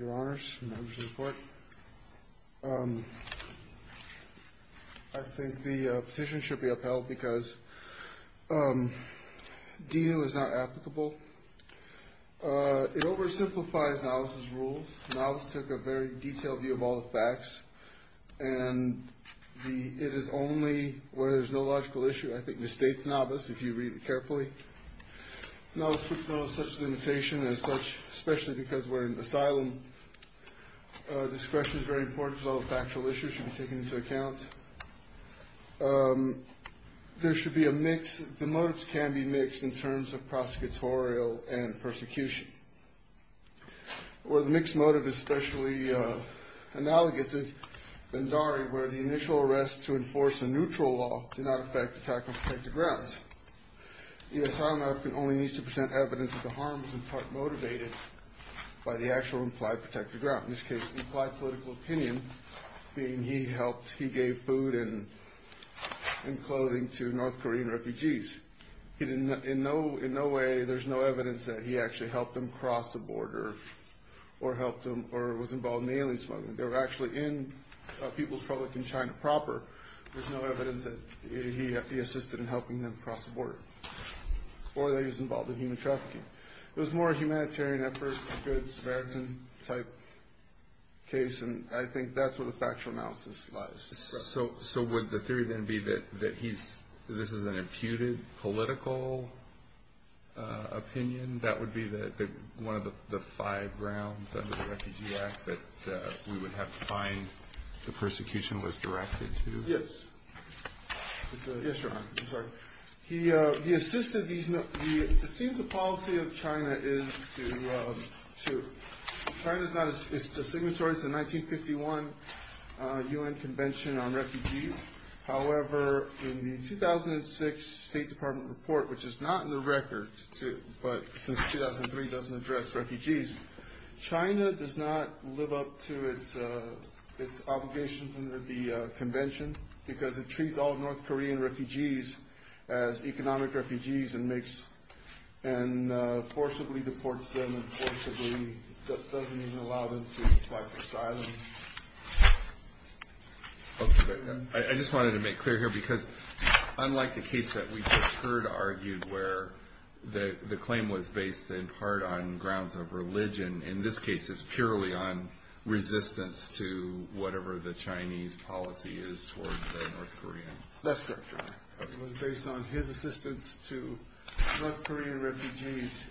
Your Honors, Members of the Court, I think the petition should be upheld because D.U. is not applicable. It oversimplifies NAVAS' rules. NAVAS took a very detailed view of all the facts, and it is only where there is no logical issue. I think it misstates NAVAS, if you read it carefully. NAVAS puts NAVAS at such a limitation as such, especially because we're in asylum. Discretion is very important because all the factual issues should be taken into account. There should be a mix. The motives can be mixed in terms of prosecutorial and persecution. Where the mixed motive is especially analogous is Banzari, where the initial arrest to enforce a neutral law did not affect attack on protected grounds. The asylum applicant only needs to present evidence that the harm was in part motivated by the actual implied protected ground. In this case, the implied political opinion being he gave food and clothing to North Korean refugees. In no way, there's no evidence that he actually helped them cross the border or was involved in alien smuggling. They were actually in People's Republic of China proper. There's no evidence that he assisted in helping them cross the border or that he was involved in human trafficking. It was more a humanitarian effort, a good American-type case, and I think that's where the factual analysis lies. So would the theory then be that this is an imputed political opinion? That would be one of the five grounds under the Refugee Act that we would have to find the persecution was directed to? Yes, Ron. It seems the policy of China is to signatories the 1951 U.N. Convention on Refugees. However, in the 2006 State Department report, which is not in the record, but since 2003 doesn't address refugees, China does not live up to its obligations under the convention because it treats all North Korean refugees as economic refugees and forcibly deports them and forcibly doesn't even allow them to apply for asylum. I just wanted to make clear here because unlike the case that we just heard argued where the claim was based in part on grounds of religion, in this case it's purely on resistance to whatever the Chinese policy is toward the North Koreans. That's correct. It was based on his assistance to North Korean refugees.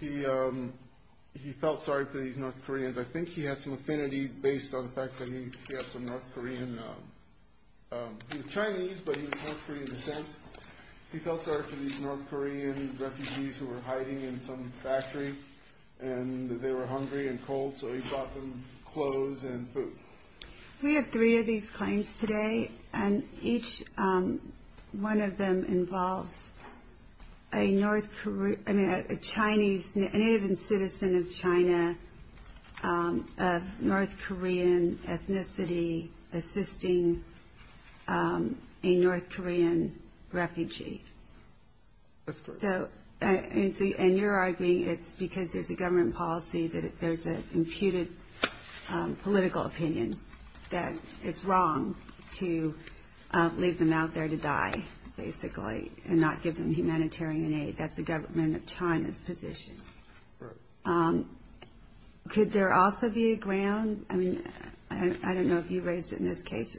He felt sorry for these North Koreans. I think he had some affinity based on the fact that he had some North Korean. He was Chinese, but he was North Korean descent. He felt sorry for these North Korean refugees who were hiding in some factory and they were hungry and cold, so he bought them clothes and food. We have three of these claims today and each one of them involves a Chinese, a native and citizen of China of North Korean ethnicity assisting a North Korean refugee. That's correct. You're arguing it's because there's a government policy that there's an imputed political opinion that it's wrong to leave them out there to die basically and not give them humanitarian aid. That's the government of China's position. Correct. Could there also be a ground, I don't know if you raised it in this case,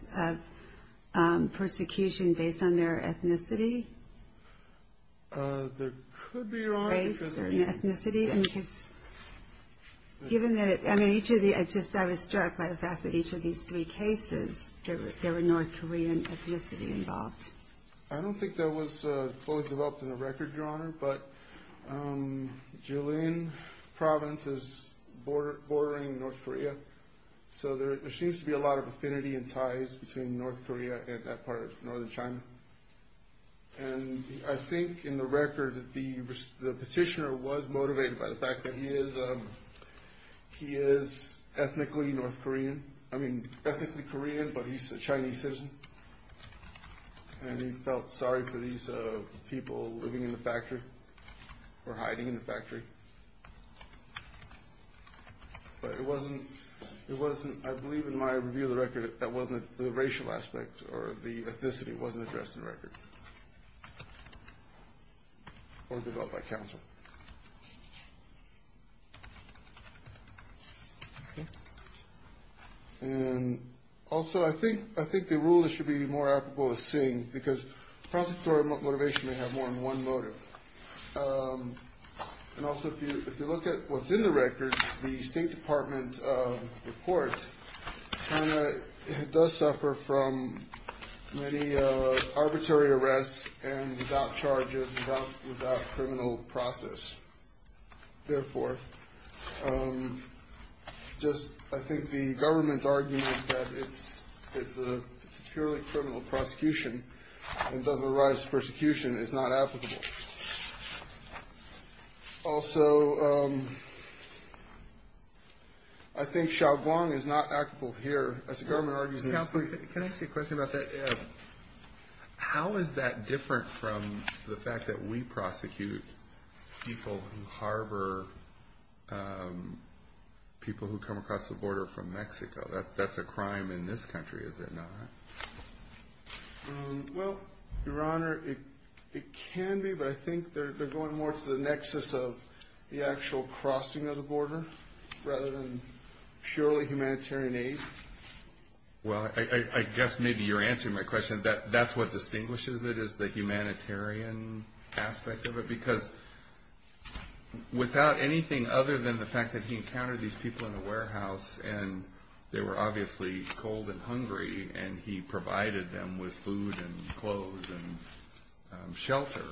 of persecution based on their ethnicity? There could be, Your Honor. Race or ethnicity? I was struck by the fact that each of these three cases, there were North Korean ethnicity involved. I don't think that was fully developed in the record, Your Honor, but Jilin Province is bordering North Korea, so there seems to be a lot of affinity and ties between North Korea and that part of northern China. I think in the record the petitioner was motivated by the fact that he is ethnically North Korean, I mean ethnically Korean, but he's a Chinese citizen, and he felt sorry for these people living in the factory or hiding in the factory. But it wasn't, I believe in my review of the record, that wasn't the racial aspect or the ethnicity wasn't addressed in the record or developed by counsel. And also I think the rule that should be more applicable is seeing, because prosecutorial motivation may have more than one motive. And also if you look at what's in the record, the State Department report, China does suffer from many arbitrary arrests and without charges, without criminal process. Therefore, just I think the government's argument that it's a purely criminal prosecution and does not rise to persecution is not applicable. Also, I think Xiaoguang is not applicable here. As the government argues... Counsel, can I ask you a question about that? How is that different from the fact that we prosecute people who harbor people who come across the border from Mexico? That's a crime in this country, is it not? Well, Your Honor, it can be. But I think they're going more to the nexus of the actual crossing of the border rather than purely humanitarian aid. Well, I guess maybe you're answering my question. That's what distinguishes it is the humanitarian aspect of it. Because without anything other than the fact that he encountered these people in a warehouse and they were obviously cold and hungry and he provided them with food and clothes and shelter,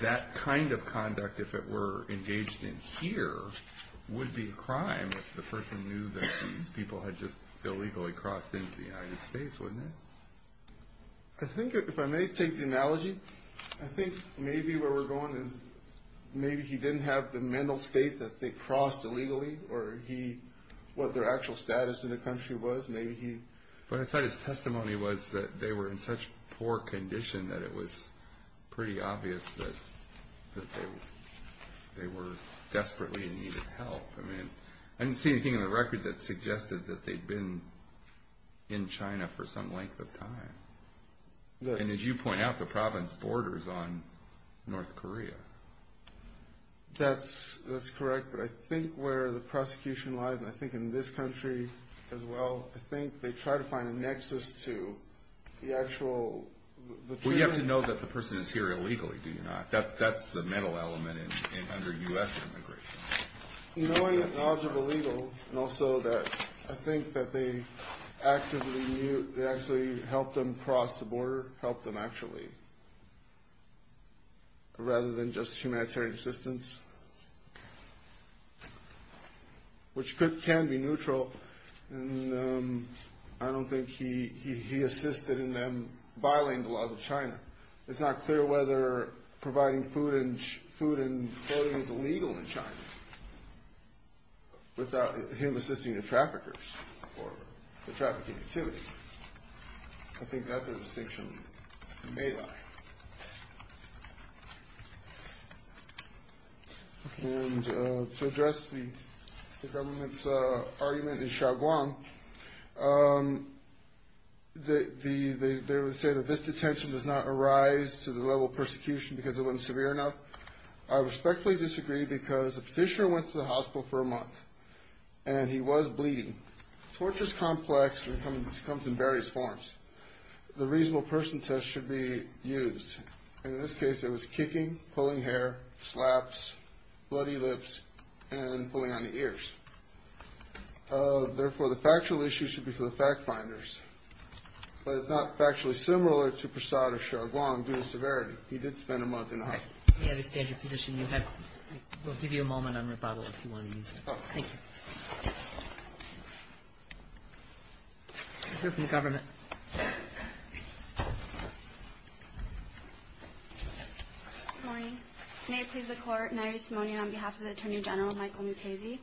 that kind of conduct, if it were engaged in here, would be a crime if the person knew that these people had just illegally crossed into the United States, wouldn't it? I think if I may take the analogy, I think maybe where we're going is maybe he didn't have the mental state that they crossed illegally or what their actual status in the country was, maybe he... But I thought his testimony was that they were in such poor condition that it was pretty obvious that they were desperately in need of help. I mean, I didn't see anything in the record that suggested that they'd been in China for some length of time. And as you point out, the province borders on North Korea. That's correct. But I think where the prosecution lies, and I think in this country as well, I think they try to find a nexus to the actual... Well, you have to know that the person is here illegally, do you not? That's the mental element under U.S. immigration. Knowing that knowledge of illegal and also that I think that they actively knew... They actually helped them cross the border, helped them actually, rather than just humanitarian assistance, which can be neutral. And I don't think he assisted in them violating the laws of China. It's not clear whether providing food and clothing is illegal in China without him assisting the traffickers or the trafficking activity. I think that's a distinction that may lie. And to address the government's argument in Xiaoguang, they would say that this detention does not arise to the level of persecution because it wasn't severe enough. I respectfully disagree because the petitioner went to the hospital for a month and he was bleeding. Torture is complex and comes in various forms. The reasonable person test should be used. In this case, it was kicking, pulling hair, slaps, bloody lips, and pulling on the ears. Therefore, the factual issue should be for the fact finders. But it's not factually similar to Prasad or Xiaoguang due to severity. He did spend a month in the hospital. We understand your position. We'll give you a moment on rebuttal if you want to use it. Thank you. We'll hear from the government. Good morning. May it please the Court. Nairi Simonian on behalf of the Attorney General, Michael Mukasey.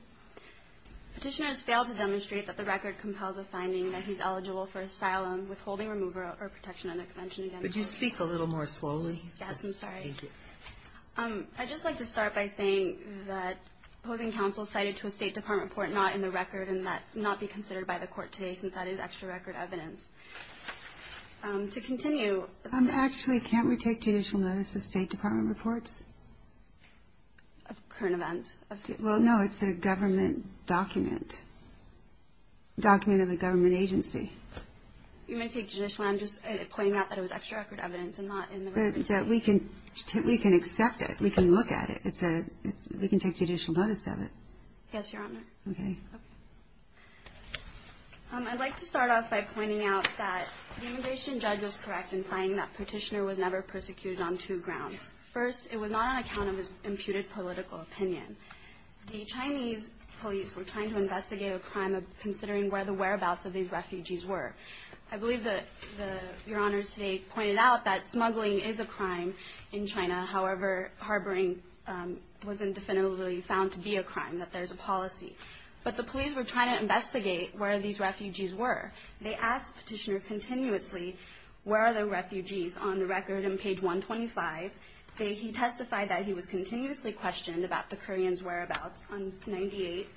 Petitioners failed to demonstrate that the record compels a finding that he's eligible for asylum, withholding remover, or protection under convention against him. Would you speak a little more slowly? Yes, I'm sorry. Thank you. I'd just like to start by saying that opposing counsel cited to a State Department report not in the record and that not be considered by the Court today since that is extra record evidence. To continue. Actually, can't we take judicial notice of State Department reports? Of current events? Well, no, it's a government document, document of a government agency. You may take judicial. I'm just pointing out that it was extra record evidence and not in the record. We can accept it. We can look at it. We can take judicial notice of it. Yes, Your Honor. Okay. Okay. I'd like to start off by pointing out that the immigration judge was correct in finding that Petitioner was never persecuted on two grounds. First, it was not on account of his imputed political opinion. The Chinese police were trying to investigate a crime of considering where the whereabouts of these refugees were. I believe that Your Honor today pointed out that smuggling is a crime in China. However, harboring wasn't definitively found to be a crime, that there's a policy. But the police were trying to investigate where these refugees were. They asked Petitioner continuously where are the refugees on the record in page 125. He testified that he was continuously questioned about the Koreans' whereabouts on page 98.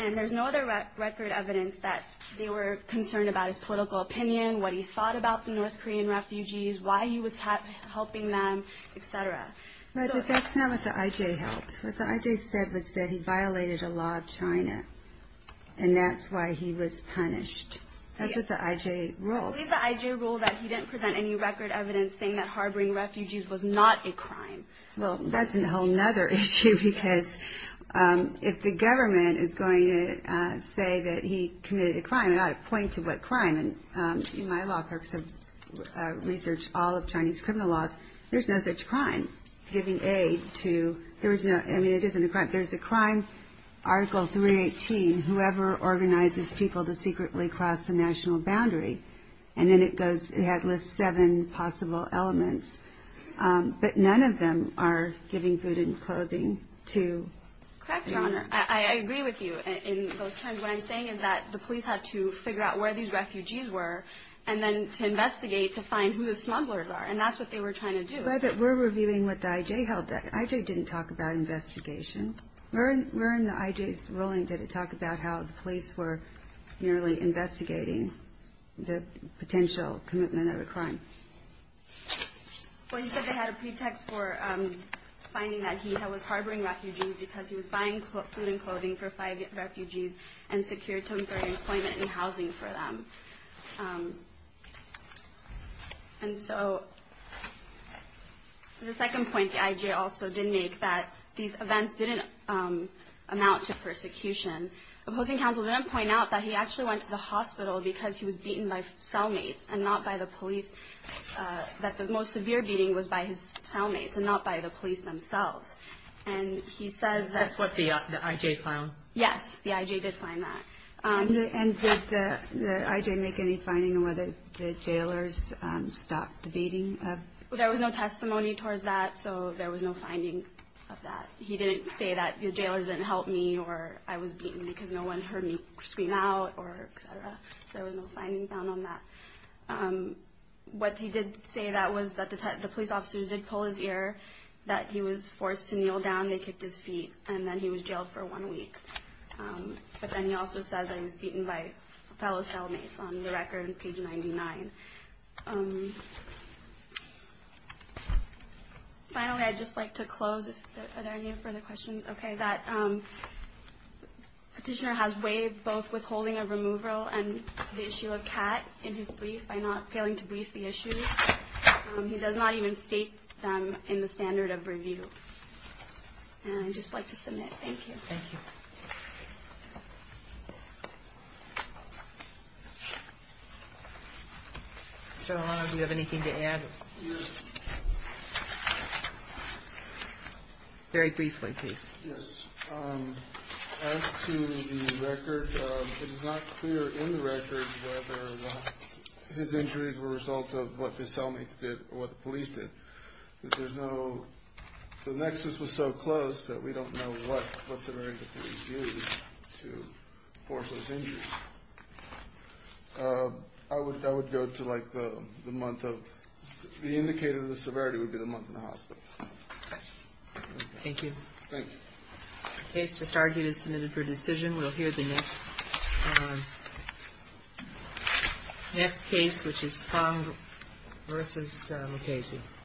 And there's no other record evidence that they were concerned about his political opinion, what he thought about the North Korean refugees, why he was helping them, et cetera. But that's not what the I.J. held. What the I.J. said was that he violated a law of China, and that's why he was punished. That's what the I.J. ruled. I believe the I.J. ruled that he didn't present any record evidence saying that harboring refugees was not a crime. Well, that's a whole other issue because if the government is going to say that he committed a crime, and I point to what crime, and my law clerks have researched all of Chinese criminal laws, there's no such crime, giving aid to, I mean, it isn't a crime. There's a crime, Article 318, whoever organizes people to secretly cross the national boundary. And then it goes, it lists seven possible elements. But none of them are giving food and clothing to. Correct, Your Honor. I agree with you in those terms. What I'm saying is that the police had to figure out where these refugees were and then to investigate to find who the smugglers are, and that's what they were trying to do. But we're reviewing what the I.J. held. The I.J. didn't talk about investigation. Where in the I.J.'s ruling did it talk about how the police were merely investigating the potential commitment of a crime? Well, he said they had a pretext for finding that he was harboring refugees because he was buying food and clothing for five refugees and secured temporary employment and housing for them. And so the second point the I.J. also did make that these events didn't amount to persecution. The opposing counsel didn't point out that he actually went to the hospital because he was beaten by cellmates and not by the police, that the most severe beating was by his cellmates and not by the police themselves. And he says that's what the I.J. found. Yes, the I.J. did find that. And did the I.J. make any finding on whether the jailers stopped the beating? There was no testimony towards that, so there was no finding of that. He didn't say that the jailers didn't help me or I was beaten because no one heard me scream out or et cetera. So there was no finding found on that. What he did say that was that the police officers did pull his ear, that he was forced to kneel down, they kicked his feet, and then he was jailed for one week. But then he also says that he was beaten by fellow cellmates on the record, page 99. Finally, I'd just like to close. Are there any further questions? Okay. That petitioner has waived both withholding of removal and the issue of Kat in his brief by not failing to brief the issue. He does not even state them in the standard of review. And I'd just like to submit. Thank you. Thank you. Mr. Olano, do you have anything to add? Yes. Very briefly, please. Yes. As to the record, it is not clear in the record whether his injuries were a result of what his cellmates did or what the police did. There's no – the nexus was so close that we don't know what severity the police used to force those injuries. I would go to, like, the month of – the indicator of the severity would be the month in the hospital. Thank you. Thank you. The case just argued is submitted for decision. We'll hear the next case, which is Fong versus Mukasey.